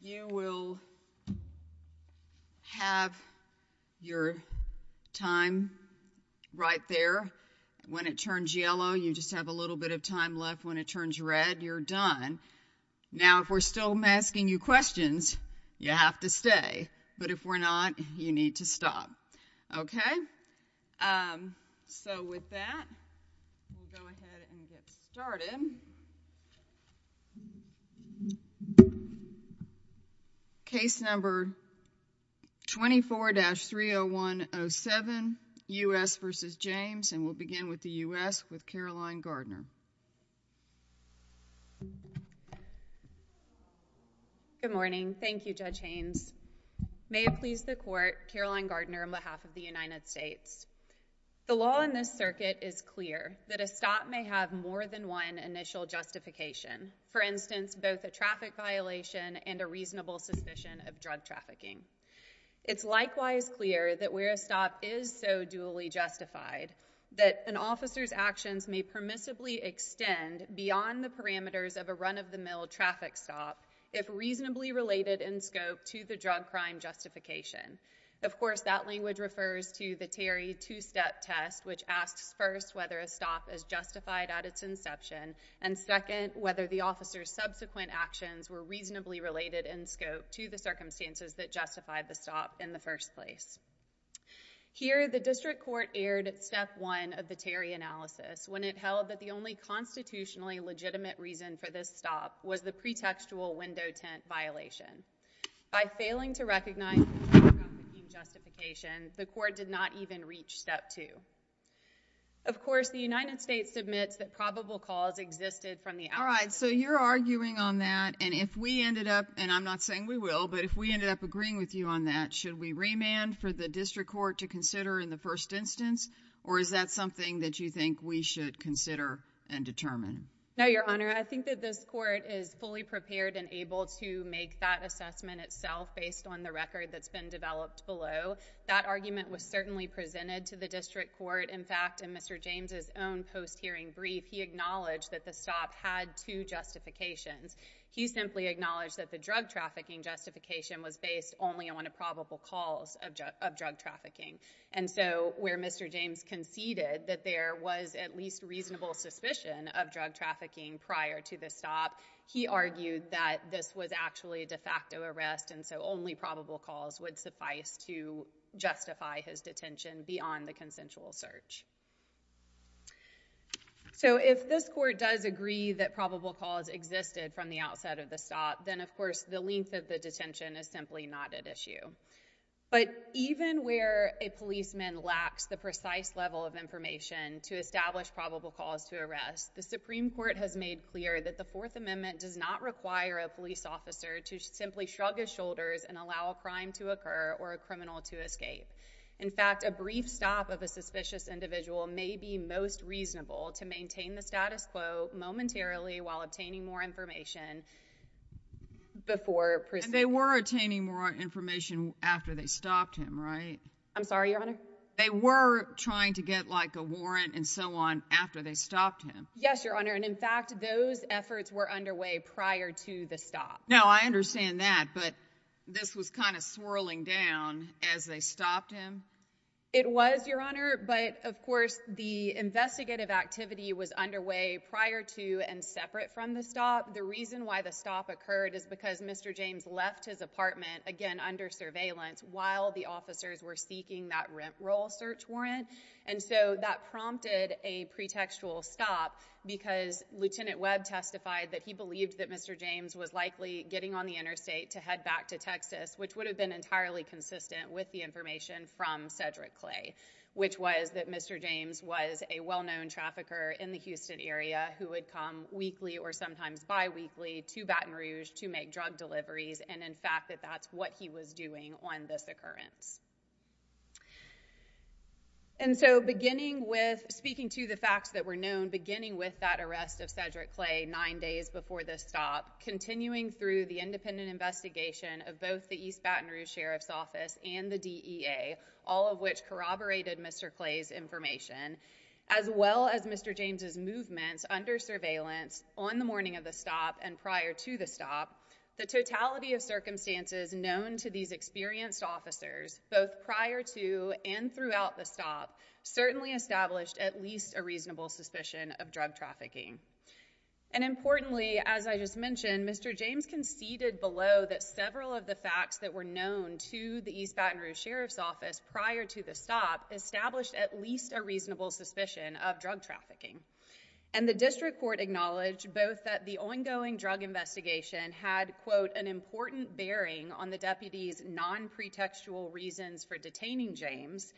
you will have your time right there when it turns yellow you just have a little bit of time left when it turns red you're done now if we're still asking you questions you have to stay but if we're not you need to stop okay so with that case number 24-30107 u.s. versus James and we'll begin with the u.s. with Caroline Gardner good morning Thank You judge Haynes may it please the court Caroline Gardner on behalf of the United States the law in this circuit is clear that a stop may have more than one initial justification for instance both a traffic violation and a reasonable suspicion of drug trafficking it's likewise clear that where a stop is so duly justified that an officer's actions may permissibly extend beyond the parameters of a run-of-the-mill traffic stop if reasonably related in scope to the drug crime justification of course that language refers to the Terry two-step test which asks first whether a stop is justified at its inception and second whether the officer's subsequent actions were reasonably related in scope to the circumstances that justified the stop in the first place here the district court aired at step one of the Terry analysis when it held that the only constitutionally legitimate reason for stop was the pretextual window tent violation by failing to recognize the court did not even reach step two of course the United States admits that probable cause existed from the alright so you're arguing on that and if we ended up and I'm not saying we will but if we ended up agreeing with you on that should we remand for the district court to consider in the first instance or is that something that you think we should consider and determine now your honor I think that this court is fully prepared and able to make that assessment itself based on the record that's been developed below that argument was certainly presented to the district court in fact and mr. James's own post hearing brief he acknowledged that the stop had two justifications he simply acknowledged that the drug trafficking justification was based only on a probable cause of drug trafficking and so where mr. James conceded that there was at least reasonable suspicion of drug trafficking prior to the stop he argued that this was actually a de facto arrest and so only probable cause would suffice to justify his detention beyond the consensual search so if this court does agree that probable cause existed from the outset of the stop then of course the length of the detention is simply not at issue but even where a policeman lacks the precise level of information to establish probable cause to arrest the Supreme Court has made clear that the Fourth Amendment does not require a police officer to simply shrug his shoulders and allow a crime to occur or a criminal to escape in fact a brief stop of a suspicious individual may be most reasonable to maintain the status quo momentarily while obtaining more information before they were attaining more information after they stopped him I'm sorry your honor they were trying to get like a warrant and so on after they stopped him yes your honor and in fact those efforts were underway prior to the stop no I understand that but this was kind of swirling down as they stopped him it was your honor but of course the investigative activity was underway prior to and separate from the stop the reason why the stop occurred is because mr. James left his apartment again under surveillance while the officers were seeking that rent roll search warrant and so that prompted a pretextual stop because lieutenant Webb testified that he believed that mr. James was likely getting on the interstate to head back to Texas which would have been entirely consistent with the information from Cedric Clay which was that mr. James was a well-known trafficker in the Houston area who would come weekly or sometimes bi-weekly to Baton Rouge to make drug deliveries and in fact that that's what he was doing on this occurrence and so beginning with speaking to the facts that were known beginning with that arrest of Cedric Clay nine days before this stop continuing through the independent investigation of both the East Baton Rouge Sheriff's Office and the DEA all of which corroborated mr. Clay's information as well as mr. James's surveillance on the morning of the stop and prior to the stop the totality of circumstances known to these experienced officers both prior to and throughout the stop certainly established at least a reasonable suspicion of drug trafficking and importantly as I just mentioned mr. James conceded below that several of the facts that were known to the East Baton Rouge Sheriff's Office prior to the stop established at least a reasonable suspicion of drug trafficking and the district court acknowledged both that the ongoing drug investigation had quote an important bearing on the deputies non-pretextual reasons for detaining James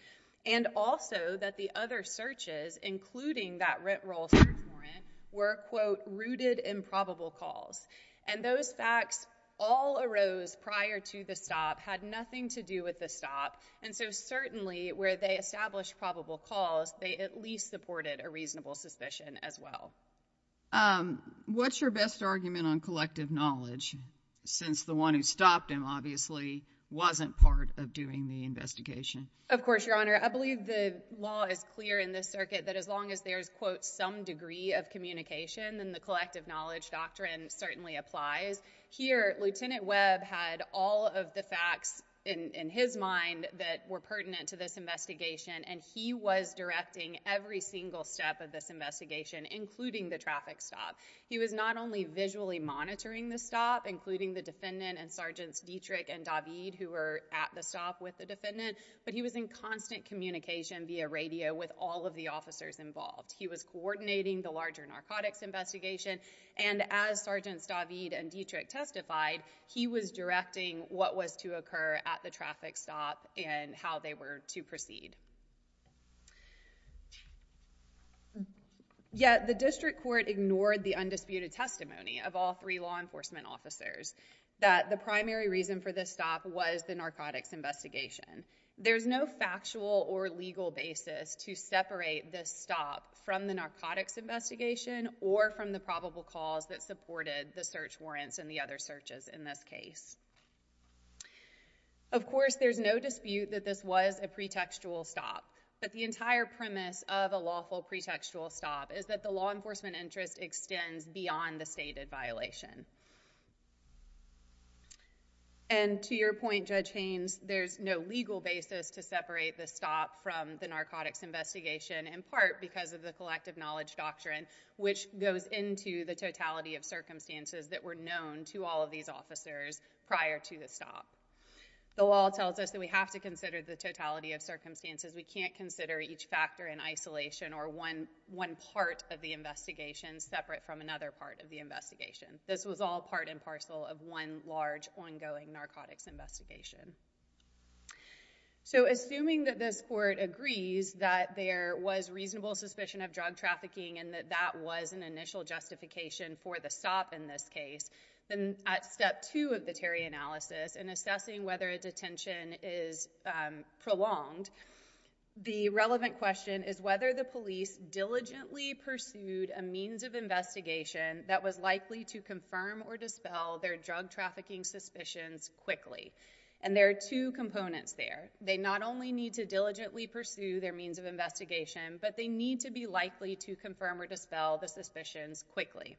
and also that the other searches including that rent rolls were quote rooted in probable cause and those facts all arose prior to the stop had nothing to do with the stop and so certainly where they established probable cause they at least supported a reasonable suspicion as well what's your best argument on collective knowledge since the one who stopped him obviously wasn't part of doing the investigation of course your honor I believe the law is clear in this circuit that as long as there's quote some degree of communication and the collective knowledge doctrine certainly applies here lieutenant Webb had all of the facts in his mind that were to this investigation and he was directing every single step of this investigation including the traffic stop he was not only visually monitoring the stop including the defendant and sergeants Dietrich and David who were at the stop with the defendant but he was in constant communication via radio with all of the officers involved he was coordinating the larger narcotics investigation and as sergeants David and Dietrich testified he was directing what was to occur at the traffic stop and how they were to proceed yet the district court ignored the undisputed testimony of all three law enforcement officers that the primary reason for this stop was the narcotics investigation there's no factual or legal basis to separate this stop from the narcotics investigation or from the probable cause that supported the search warrants and the other searches in this case of course there's no dispute that this was a pretextual stop but the entire premise of a lawful pretextual stop is that the law enforcement interest extends beyond the stated violation and to your point judge Haynes there's no legal basis to separate the stop from the narcotics investigation in part because of the collective knowledge doctrine which goes into the totality of circumstances that were known to all of these officers prior to the stop the law tells us that we have to consider the totality of circumstances we can't consider each factor in isolation or one one part of the investigation separate from another part of the investigation this was all part and parcel of one large ongoing narcotics investigation so assuming that this court agrees that there was reasonable suspicion of drug trafficking and that that was an initial justification for the stop in this case then at step two of the Terry analysis and assessing whether a detention is prolonged the relevant question is whether the police diligently pursued a means of investigation that was likely to confirm or dispel their drug trafficking suspicions quickly and there are two components there they not only need to diligently pursue their means of investigation but they need to be likely to confirm or dispel the suspicions quickly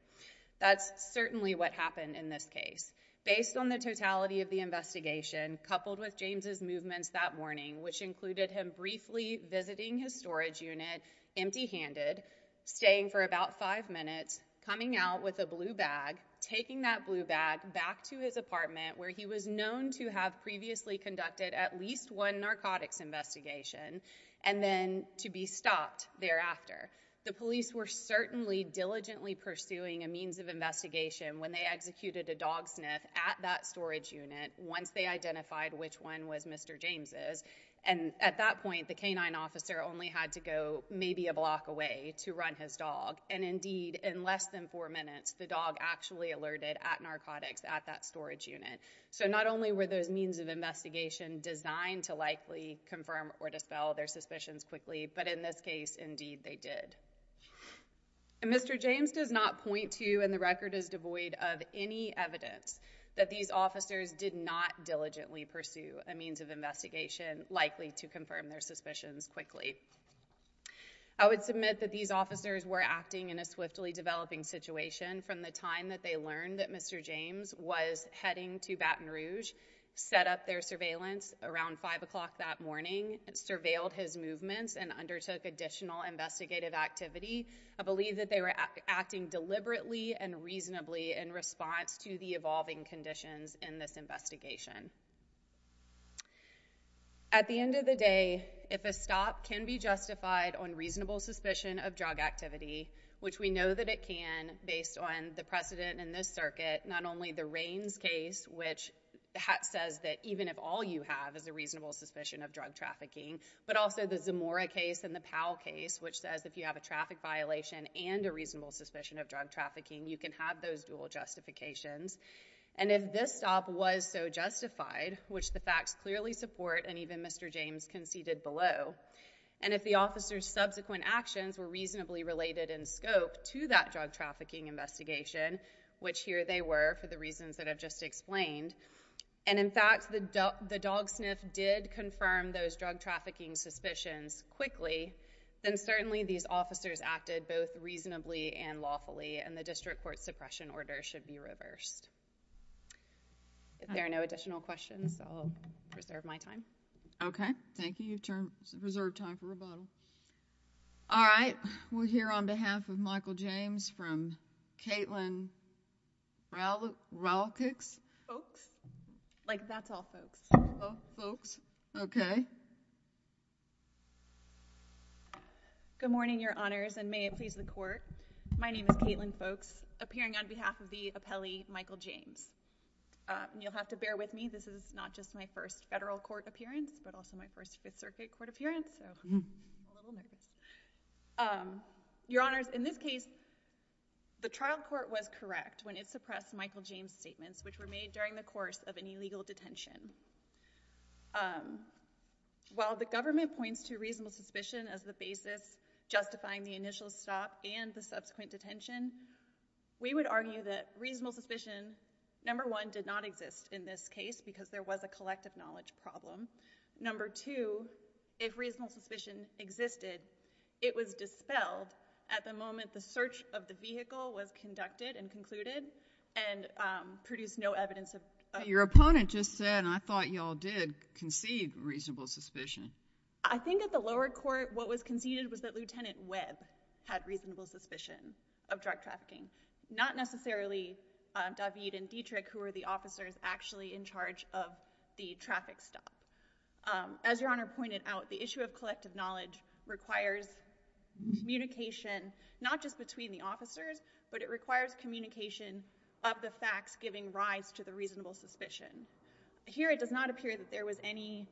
that's certainly what happened in this case based on the totality of the investigation coupled with James's movements that morning which included him briefly visiting his storage unit empty-handed staying for about five minutes coming out with a blue bag taking that blue bag back to his apartment where he was known to have previously conducted at least one narcotics investigation and then to be stopped thereafter the police were certainly diligently pursuing a means of investigation when they executed a dog sniff at that storage unit once they identified which one was Mr. James's and at that point the canine officer only had to go maybe a block away to run his dog and indeed in less than four minutes the dog actually alerted at narcotics at that storage unit so not only were those means of investigation designed to likely confirm or dispel their suspicions quickly but in this case indeed they did and Mr. James does not point to you and the record is devoid of any evidence that these officers did not diligently pursue a means of investigation likely to confirm their suspicions quickly I would submit that these officers were acting in a swiftly developing situation from the time that they learned that Mr. James was heading to Baton Rouge set up their surveillance around five o'clock that morning and surveilled his movements and undertook additional investigative activity I believe that they were acting deliberately and reasonably in response to the evolving conditions in this investigation at the end of the day if a stop can be justified on reasonable suspicion of drug activity which we know that it can based on the precedent in this circuit not only the rains case which says that even if all you have is a reasonable suspicion of drug trafficking but also the Zamora case and the Powell case which says if you have a traffic violation and a reasonable suspicion of drug trafficking you can have those dual justifications and if this stop was so justified which the facts clearly support and even Mr. James conceded below and if the officers subsequent actions were reasonably related in scope to that drug trafficking investigation which here they were for the reasons that I've just explained and in fact the dog the dog did confirm those drug trafficking suspicions quickly then certainly these officers acted both reasonably and lawfully and the district court suppression order should be reversed if there are no additional questions I'll reserve my time okay thank you you've turned reserved time for rebuttal all right we're here on behalf of Michael James from Caitlin Rallick's folks like that's all folks folks okay good morning your honors and may it please the court my name is Caitlin folks appearing on behalf of the appellee Michael James you'll have to bear with me this is not just my first federal court appearance but also my first Fifth Circuit court appearance your honors in this case the trial court was correct when it suppressed Michael James statements which were made during the course of an illegal detention while the government points to reasonable suspicion as the basis justifying the initial stop and the subsequent detention we would argue that reasonable suspicion number one did not exist in this case because there was a collective knowledge problem number two if reasonable suspicion existed it was dispelled at the moment the search of the vehicle was conducted and concluded and produced no evidence of your opponent just said I thought y'all did concede reasonable suspicion I think at the lower court what was conceded was that lieutenant Webb had reasonable suspicion of drug trafficking not necessarily David and Dietrich who are the officers actually in charge of the traffic stop as your honor pointed out the issue of collective knowledge requires communication not just between the officers but it requires communication of the facts giving rise to the reasonable suspicion here it does not appear that there was any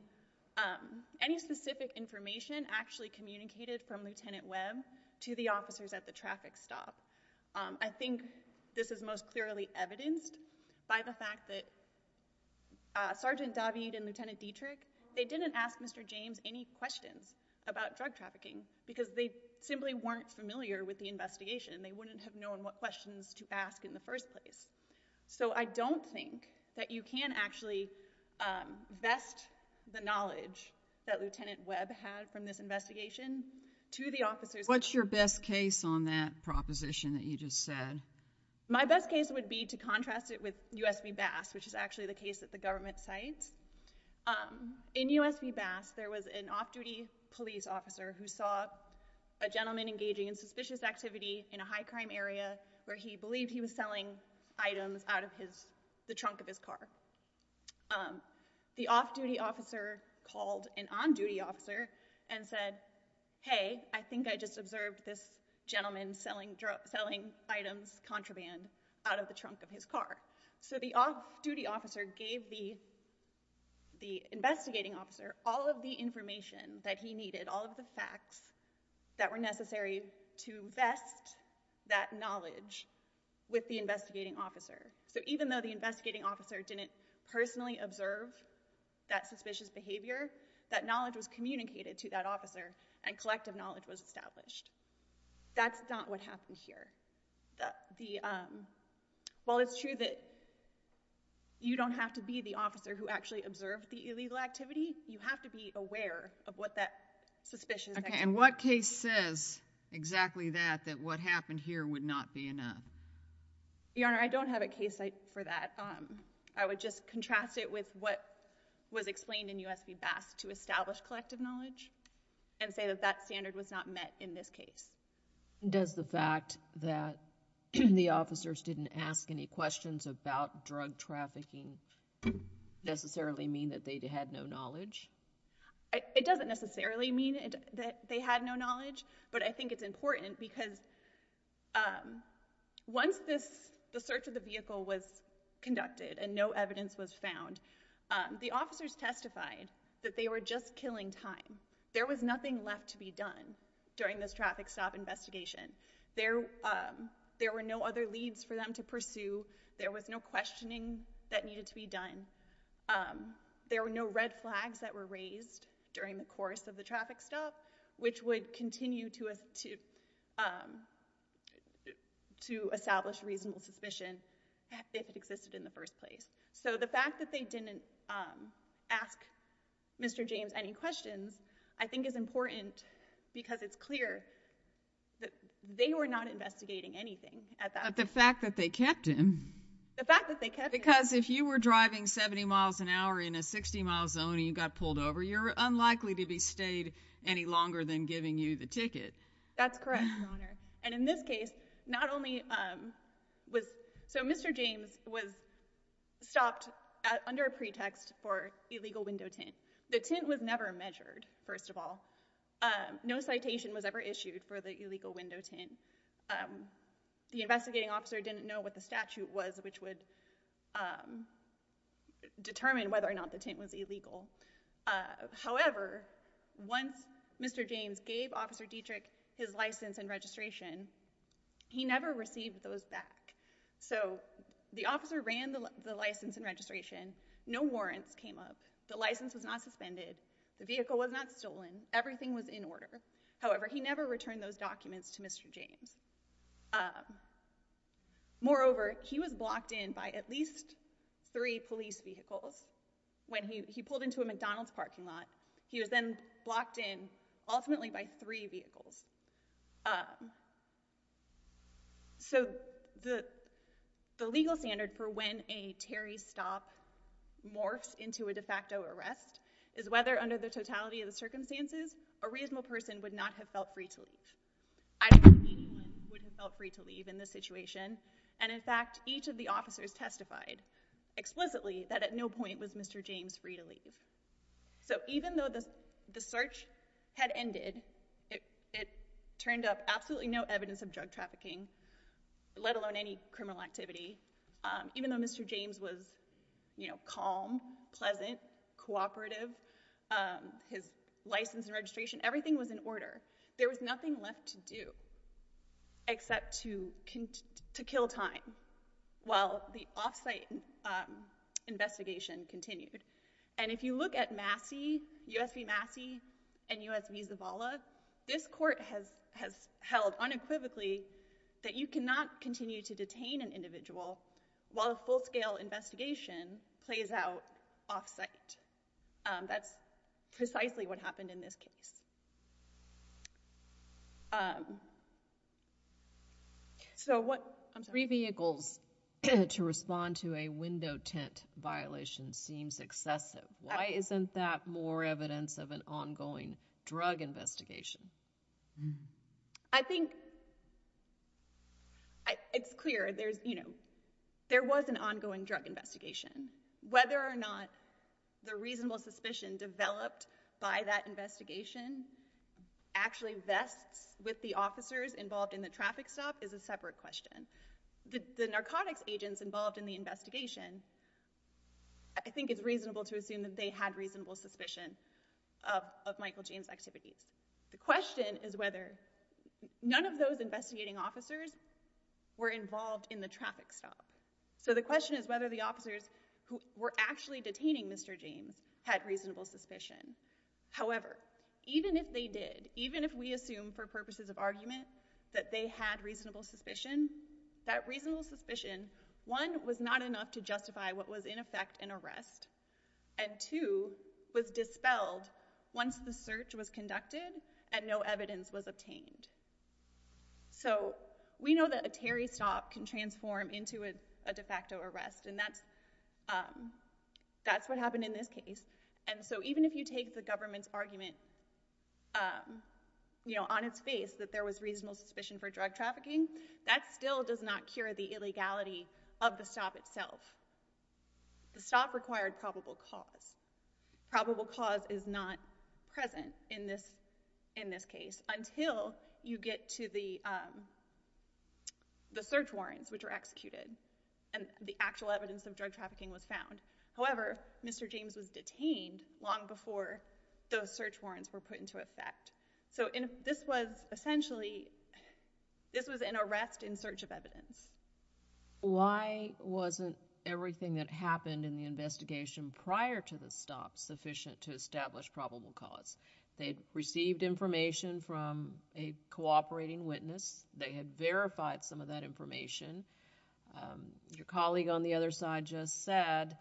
any specific information actually communicated from lieutenant Webb to the officers at the traffic stop I think this is most clearly evidenced by the fact that Sergeant David and Lieutenant Dietrich they didn't ask mr. James any questions about drug trafficking because they simply weren't familiar with the investigation they wouldn't have known what questions to ask in the first place so I don't think that you can actually vest the knowledge that lieutenant Webb had from this investigation to the officers what's your best case on that proposition that you just said my best case would be to contrast it with USB bass which is actually the case that the government sites in USB bass there was an off-duty police officer who saw a gentleman engaging in suspicious activity in a high-crime area where he believed he was selling items out of his the trunk of his car the off-duty officer called an on-duty officer and said hey I think I just observed this gentleman selling drug selling items contraband out of the trunk of his car so the off-duty officer gave the the investigating officer all of the information that he needed all of the facts that were necessary to vest that knowledge with the investigating officer so even though the investigating officer didn't personally observe that suspicious behavior that knowledge was communicated to that officer and collective knowledge was established that's not what happened here the well it's true that you don't have to be the officer who actually observed the illegal activity you have to be aware of what that suspicion okay and what case says exactly that that what happened here would not be enough your honor I don't have a case site for that um I would just contrast it with what was explained in USB bass to establish collective knowledge and say that that standard was not met in this case does the fact that the officers didn't ask any questions about drug trafficking necessarily mean that they had no knowledge it doesn't necessarily mean that they had no knowledge but I think it's important because once this the search of the vehicle was conducted and no evidence was found the officers testified that they were just killing time there was nothing left to be done during this traffic stop investigation there there were no other leads for them to pursue there was no questioning that needed to be done there were no red flags that were raised during the course of the traffic stop which would continue to us to to establish reasonable suspicion if it existed in the first place so the fact that they didn't ask mr. James any questions I think is important because it's clear that they were not investigating anything at the fact that they kept him because if you were driving 70 miles an hour in a 60 mile zone you got pulled over you're unlikely to be stayed any longer than giving you the ticket that's correct and in this case not only was so mr. James was stopped under a pretext for illegal window tint the tint was never measured first of all no citation was ever issued for the illegal window tint the investigating officer didn't know what the statute was which would determine whether or not the tint was illegal however once mr. James gave officer Dietrich his license and registration he never received those back so the officer ran the license and registration no warrants came up the license was not suspended the vehicle was not stolen everything was in order however he never returned those documents to mr. James moreover he was blocked in by at least three police vehicles when he pulled into a McDonald's parking lot he was then blocked in ultimately by three vehicles so the the legal standard for when a Terry stop morphs into a de facto arrest is whether under the totality of the circumstances a reasonable person would not have felt free to leave I don't think anyone would have felt free to leave in this situation and in fact each of the officers testified explicitly that at no point was mr. James free to leave so even though this the search had ended it turned up absolutely no evidence of drug trafficking let alone any criminal activity even though mr. James was you know calm pleasant cooperative his license and registration everything was in order there was nothing left to do except to kill time while the investigation continued and if you look at Massey USB Massey and USB Zavala this court has has held unequivocally that you cannot continue to detain an individual while a full-scale investigation plays out off-site that's precisely what happened in this case so what I'm three vehicles to respond to a window tint violation seems excessive why isn't that more evidence of an ongoing drug investigation I think it's clear there's you know there was an ongoing drug investigation whether or not the reasonable suspicion developed by that investigation actually vests with the officers involved in the traffic stop is a separate question the narcotics agents involved in the investigation I think it's reasonable to assume that they had reasonable suspicion of Michael James activities the question is whether none of those investigating officers were involved in the traffic stop so the question is whether the officers who were actually detaining mr. James had reasonable suspicion however even if they did even if we assume for purposes of argument that they had reasonable suspicion that reasonable suspicion one was not enough to justify what was in effect and arrest and two was dispelled once the search was and no evidence was obtained so we know that a Terry stop can transform into a de facto arrest and that's that's what happened in this case and so even if you take the government's argument you know on its face that there was reasonable suspicion for drug trafficking that still does not cure the illegality of the stop itself the stop required probable cause probable cause is not present in this in this case until you get to the the search warrants which are executed and the actual evidence of drug trafficking was found however mr. James was detained long before those search warrants were put into effect so in this was essentially this was an arrest in search of evidence why wasn't everything that happened in the investigation prior to the stop sufficient to establish probable cause they received information from a cooperating witness they had verified some of that information your colleague on the other side just said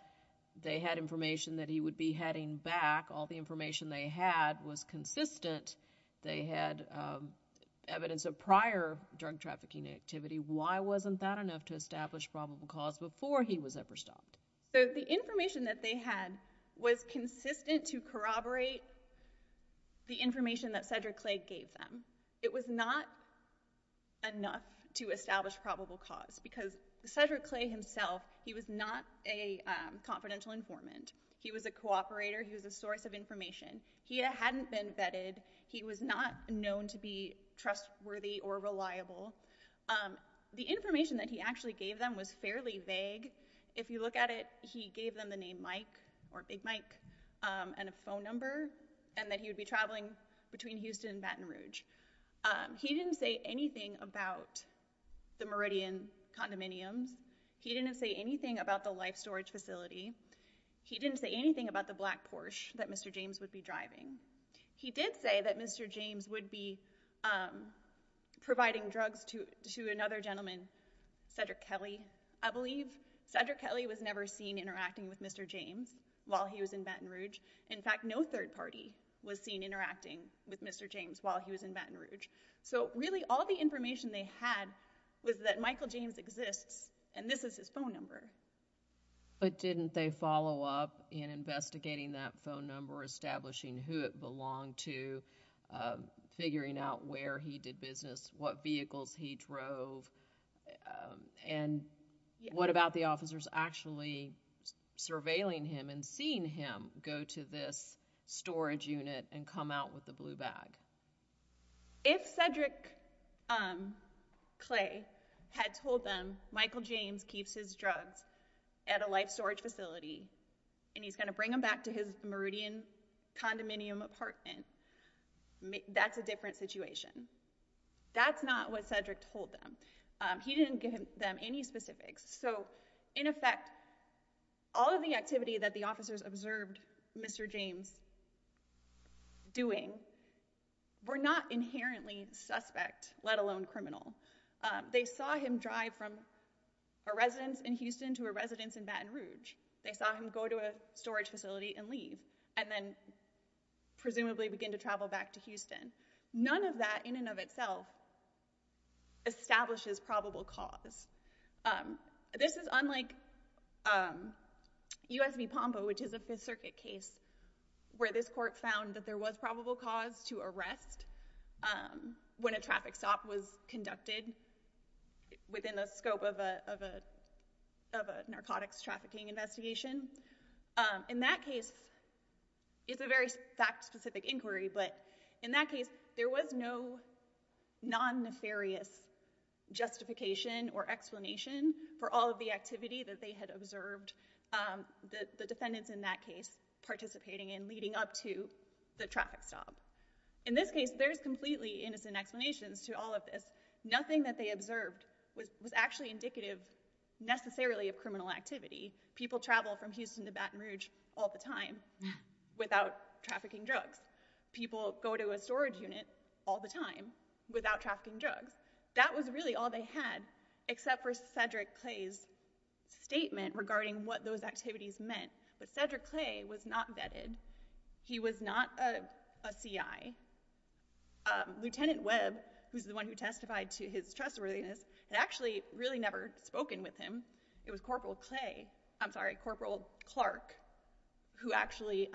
they had information that he would be heading back all the information they had was consistent they had evidence of prior drug trafficking activity why wasn't that enough to establish probable cause before he was ever stopped so the the information that Cedric Clay gave them it was not enough to establish probable cause because Cedric Clay himself he was not a confidential informant he was a cooperator he was a source of information he hadn't been vetted he was not known to be trustworthy or reliable the information that he actually gave them was fairly vague if you look at it he gave them the or Big Mike and a phone number and that he would be traveling between Houston Baton Rouge he didn't say anything about the Meridian condominiums he didn't say anything about the life storage facility he didn't say anything about the black Porsche that mr. James would be driving he did say that mr. James would be providing drugs to another gentleman Cedric Kelly I believe Cedric Kelly was never seen interacting with mr. James while he was in Baton Rouge in fact no third party was seen interacting with mr. James while he was in Baton Rouge so really all the information they had was that Michael James exists and this is his phone number but didn't they follow up in investigating that phone number establishing who it belonged to figuring out where he did business what vehicles he drove and what about the officers actually surveilling him and seeing him go to this storage unit and come out with the blue bag if Cedric clay had told them Michael James keeps his drugs at a life storage facility and he's gonna bring him back to his Meridian condominium apartment that's a different situation that's not what Cedric told them he didn't give them any specifics so in effect all of the activity that the officers observed mr. James doing we're not inherently suspect let alone criminal they saw him drive from a residence in Houston to a residence in Baton Rouge they saw him go to a storage facility and leave and then presumably begin to travel back to Houston none of that in and of itself establishes probable cause this is unlike USB Pompa which is a Fifth Circuit case where this court found that there was probable cause to arrest when a traffic stop was conducted within the scope of a of a case is a very specific inquiry but in that case there was no non-nefarious justification or explanation for all of the activity that they had observed the defendants in that case participating in leading up to the traffic stop in this case there's completely innocent explanations to all of this nothing that they observed was actually indicative necessarily of criminal activity people travel from Houston to Baton Rouge all the time without trafficking drugs people go to a storage unit all the time without trafficking drugs that was really all they had except for Cedric Clay's statement regarding what those activities meant but Cedric Clay was not vetted he was not a CI lieutenant Webb who's the one who testified to his trustworthiness and actually really never spoken with him it was Corporal Clay I'm sorry Corporal Clark who actually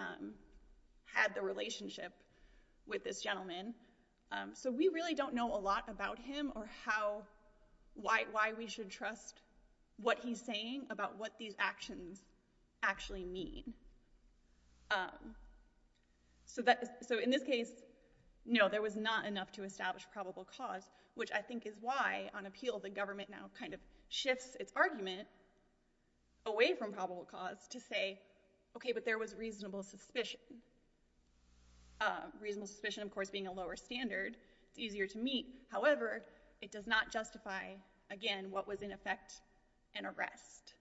had the relationship with this gentleman so we really don't know a lot about him or how why we should trust what he's saying about what these actions actually mean so that so in this case no there was not enough to establish probable cause which I think is why on appeal the government now kind of shifts its argument away from probable cause to say okay but there was reasonable suspicion reasonable suspicion of course being a lower standard it's easier to meet however it does not justify again what was in effect an arrest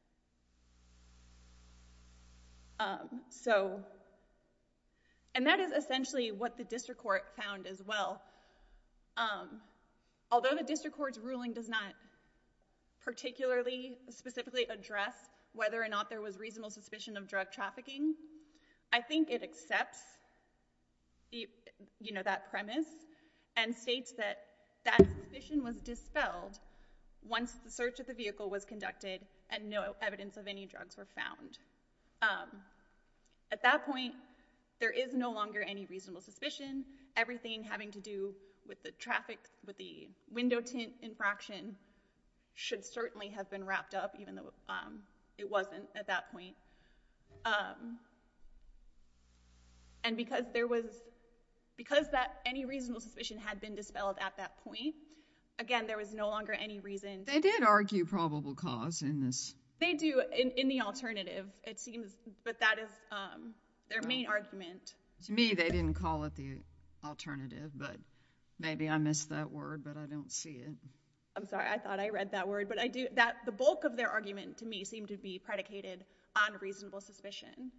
so and that is essentially what the district court found as well although the district court's ruling does not particularly specifically address whether or not there was reasonable suspicion of drug trafficking I think it accepts the you know that premise and states that that mission was dispelled once the search of the vehicle was conducted and no evidence of any drugs were found at that point there is no longer any reasonable suspicion everything having to do with the traffic with the window tint infraction should certainly have been wrapped up even though it wasn't at that point and because there was because that any reasonable suspicion had been dispelled at that point again there was no longer any reason they did argue probable cause in this they do in the alternative it seems but that is their argument to me they didn't call it the alternative but maybe I missed that word but I don't see it I'm sorry I thought I read that word but I do that the bulk of their argument to me seemed to be predicated on reasonable suspicion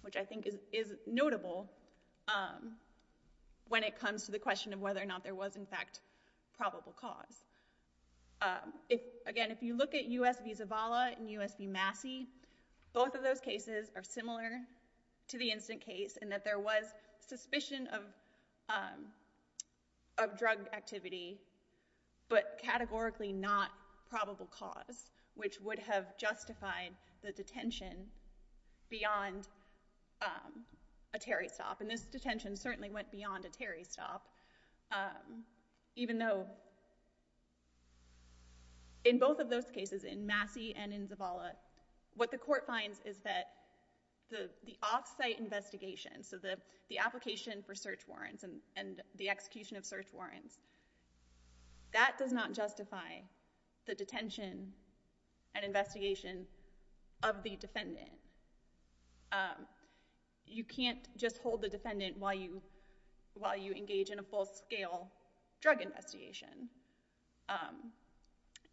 which I think is notable when it comes to the question of whether or not there was in fact probable cause if again if you look at US visa Vala and USB Massey both of those cases are similar to the instant case and that there was suspicion of of drug activity but categorically not probable cause which would have justified the detention beyond a Terry stop and this detention certainly went beyond a Terry stop even though in both of those cases in Massey and in Zavala what the court finds is that the the off-site investigation so the the application for search warrants and and the execution of search warrants that does not justify the detention and investigation of the defendant you can't just hold the defendant while you while you engage in a full-scale drug investigation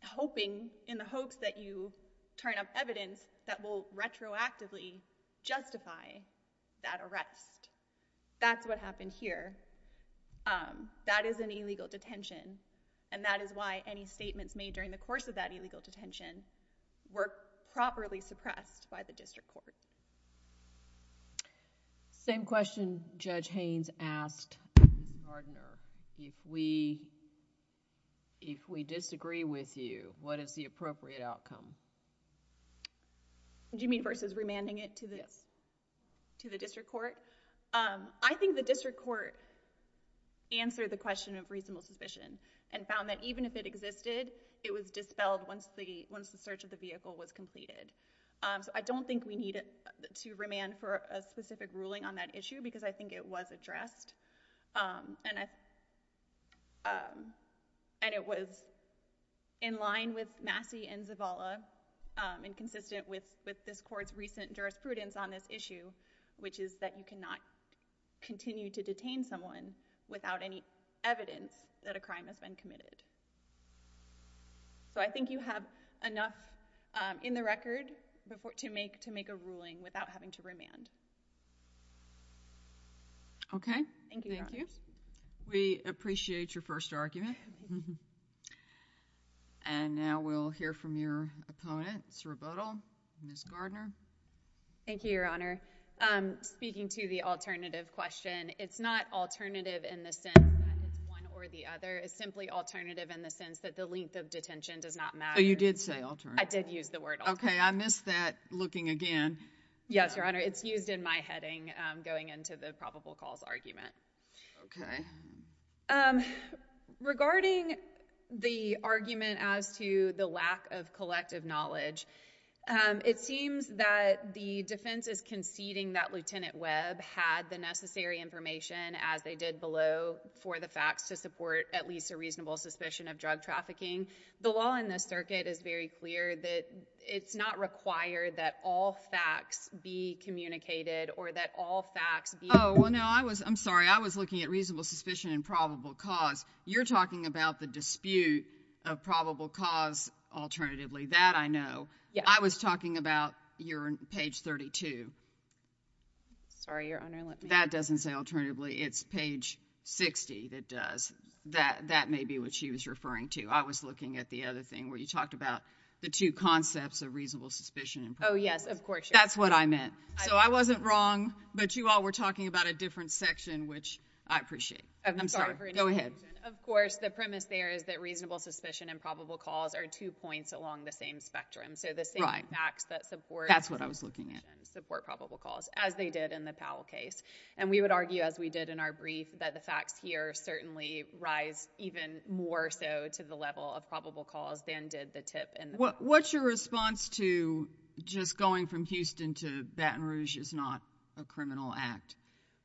hoping in the hopes that you turn up evidence that will retroactively justify that arrest that's what happened here that is an illegal detention and that is why any statements made during the course of that illegal detention were properly suppressed by the district court same question judge Haynes asked Gardner if we if we disagree with you what is the appropriate outcome do you mean versus remanding it to this to the district court I think the district court answered the question of reasonable suspicion and found that even if it existed it was dispelled once the once the search of the vehicle was completed so I don't think we need it to remand for a specific ruling on that issue because I think it was addressed and I and it was in line with Massey and Zavala and consistent with with this court's recent jurisprudence on this issue which is that you cannot continue to detain someone without any evidence that a crime has been committed so I think you have enough in the record before to make to make a ruling without having to remand okay thank you we appreciate your first argument and now we'll hear from your opponents rebuttal miss Gardner Thank You Your Honor speaking to the alternative question it's not alternative in the sense or the other is simply alternative in the sense that the length of detention does not matter you did say I did use the word okay I missed that looking again yes your honor it's used in my heading going into the probable cause argument okay regarding the argument as to the lack of collective knowledge it seems that the defense is conceding that lieutenant Webb had the necessary information as they did below for the facts to support at least a reasonable suspicion of drug trafficking the law in this circuit is very clear that it's not required that all facts be communicated or that all facts oh well no I was I'm sorry I was looking at reasonable suspicion and probable cause you're talking about the dispute of probable cause alternatively that I know yeah I was talking about your page 32 sorry your honor that doesn't say alternatively it's page 60 that does that that may be what she was referring to I was looking at the other thing where you talked about the two concepts of reasonable suspicion oh yes of course that's what I meant so I wasn't wrong but you all were talking about a different section which I appreciate I'm sorry go ahead of course the premise there is that reasonable suspicion and probable cause are two points along the same spectrum so the same facts that support that's what I was looking at support probable cause as they did in the Powell case and we would argue as we did in our brief that the facts here certainly rise even more so to the level of probable cause than did the tip and what's your response to just going from Houston to Baton Rouge is not a criminal act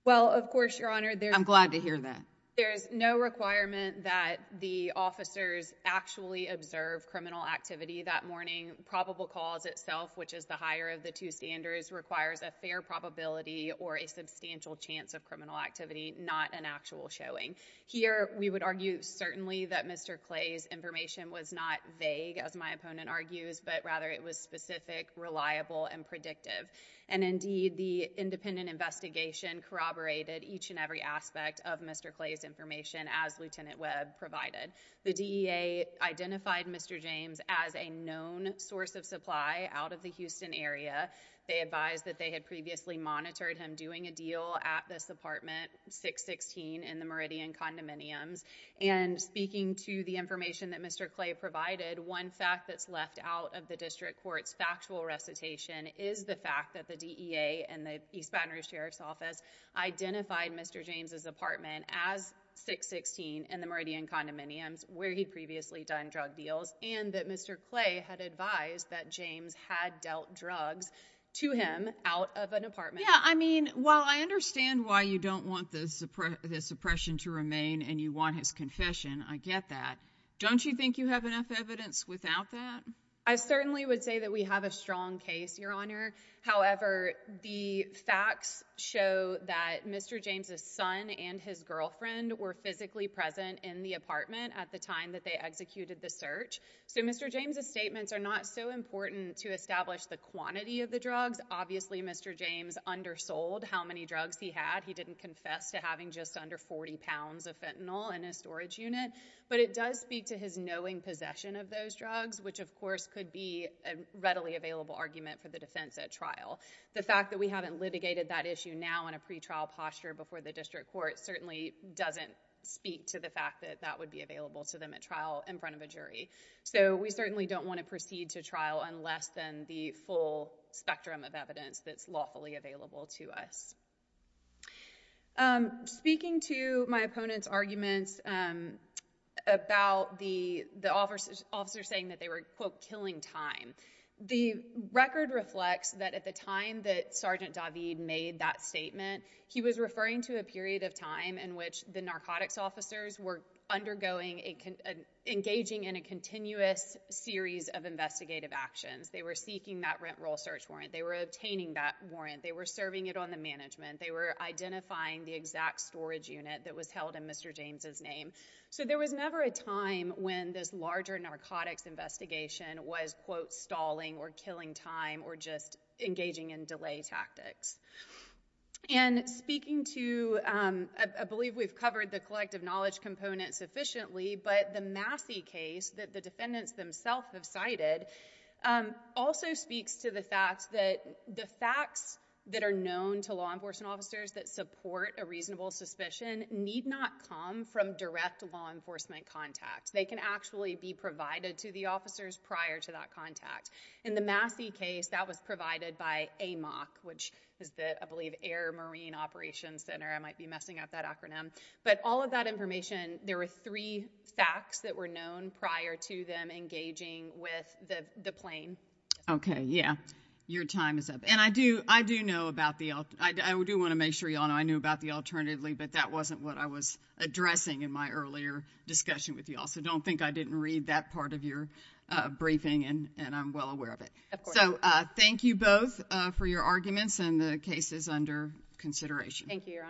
well of course your honor there I'm glad to hear that there is no requirement that the officers actually observe criminal activity that morning probable cause itself which is the higher of the two standards requires a fair probability or a substantial chance of criminal activity not an actual showing here we would argue certainly that mr. Clay's information was not vague as my opponent argues but rather it was specific reliable and predictive and indeed the independent investigation corroborated each and every aspect of mr. Clay's information as lieutenant Webb provided the DEA identified mr. James as a known source of supply out of the Houston area they advised that they had previously monitored him doing a deal at this apartment 616 in the Meridian condominiums and speaking to the information that mr. Clay provided one fact that's left out of the district courts factual recitation is the fact that the DEA and the East Baton Rouge Sheriff's Office identified mr. James's apartment as 616 in the Meridian condominiums where he previously done drug deals and that mr. Clay had advised that James had dealt drugs to him out of an apartment yeah I mean well I understand why you don't want this oppression to remain and you want his confession I get that don't you think you have enough evidence without that I certainly would say that we have a strong case your honor however the facts show that mr. James's son and his girlfriend were physically present in the apartment at the time that they executed the search so mr. James's statements are not so important to establish the quantity of the drugs obviously mr. James undersold how many drugs he had he didn't confess to having just under 40 pounds of fentanyl in a storage unit but it does speak to his knowing possession of those drugs which of course could be a readily available argument for the defense at trial the fact that we haven't litigated that issue now in a pretrial posture before the district court certainly doesn't speak to the fact that that would be available to them at trial in front of a jury so we certainly don't want to proceed to trial on less than the full spectrum of evidence that's lawfully available to us speaking to my opponent's arguments about the the officers officers saying that they were quote killing time the record reflects that at the time that sergeant David made that statement he was referring to a period of time in which the narcotics officers were undergoing a engaging in a continuous series of investigative actions they were seeking that rent roll search warrant they were obtaining that warrant they were serving it on the management they were identifying the exact storage unit that was held in mr. James's name so there was never a time when this larger narcotics investigation was quote stalling or killing time or just engaging in delay tactics and speaking to I believe we've covered the collective knowledge component sufficiently but the Massey case that the defendants themselves have cited also speaks to the fact that the facts that are known to law enforcement officers that support a reasonable suspicion need not come from direct law enforcement contact they can actually be provided to the officers prior to that contact in the Massey case that was provided by a mock which is that I believe Air Marine Operations Center I might be messing up that acronym but all that information there are three facts that were known prior to them engaging with the plane okay yeah your time is up and I do I do know about the I do want to make sure you all know I knew about the alternatively but that wasn't what I was addressing in my earlier discussion with you also don't think I didn't read that part of your briefing and and I'm well aware of it so thank you both for your arguments and the case is under consideration thank you your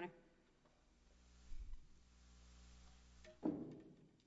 honor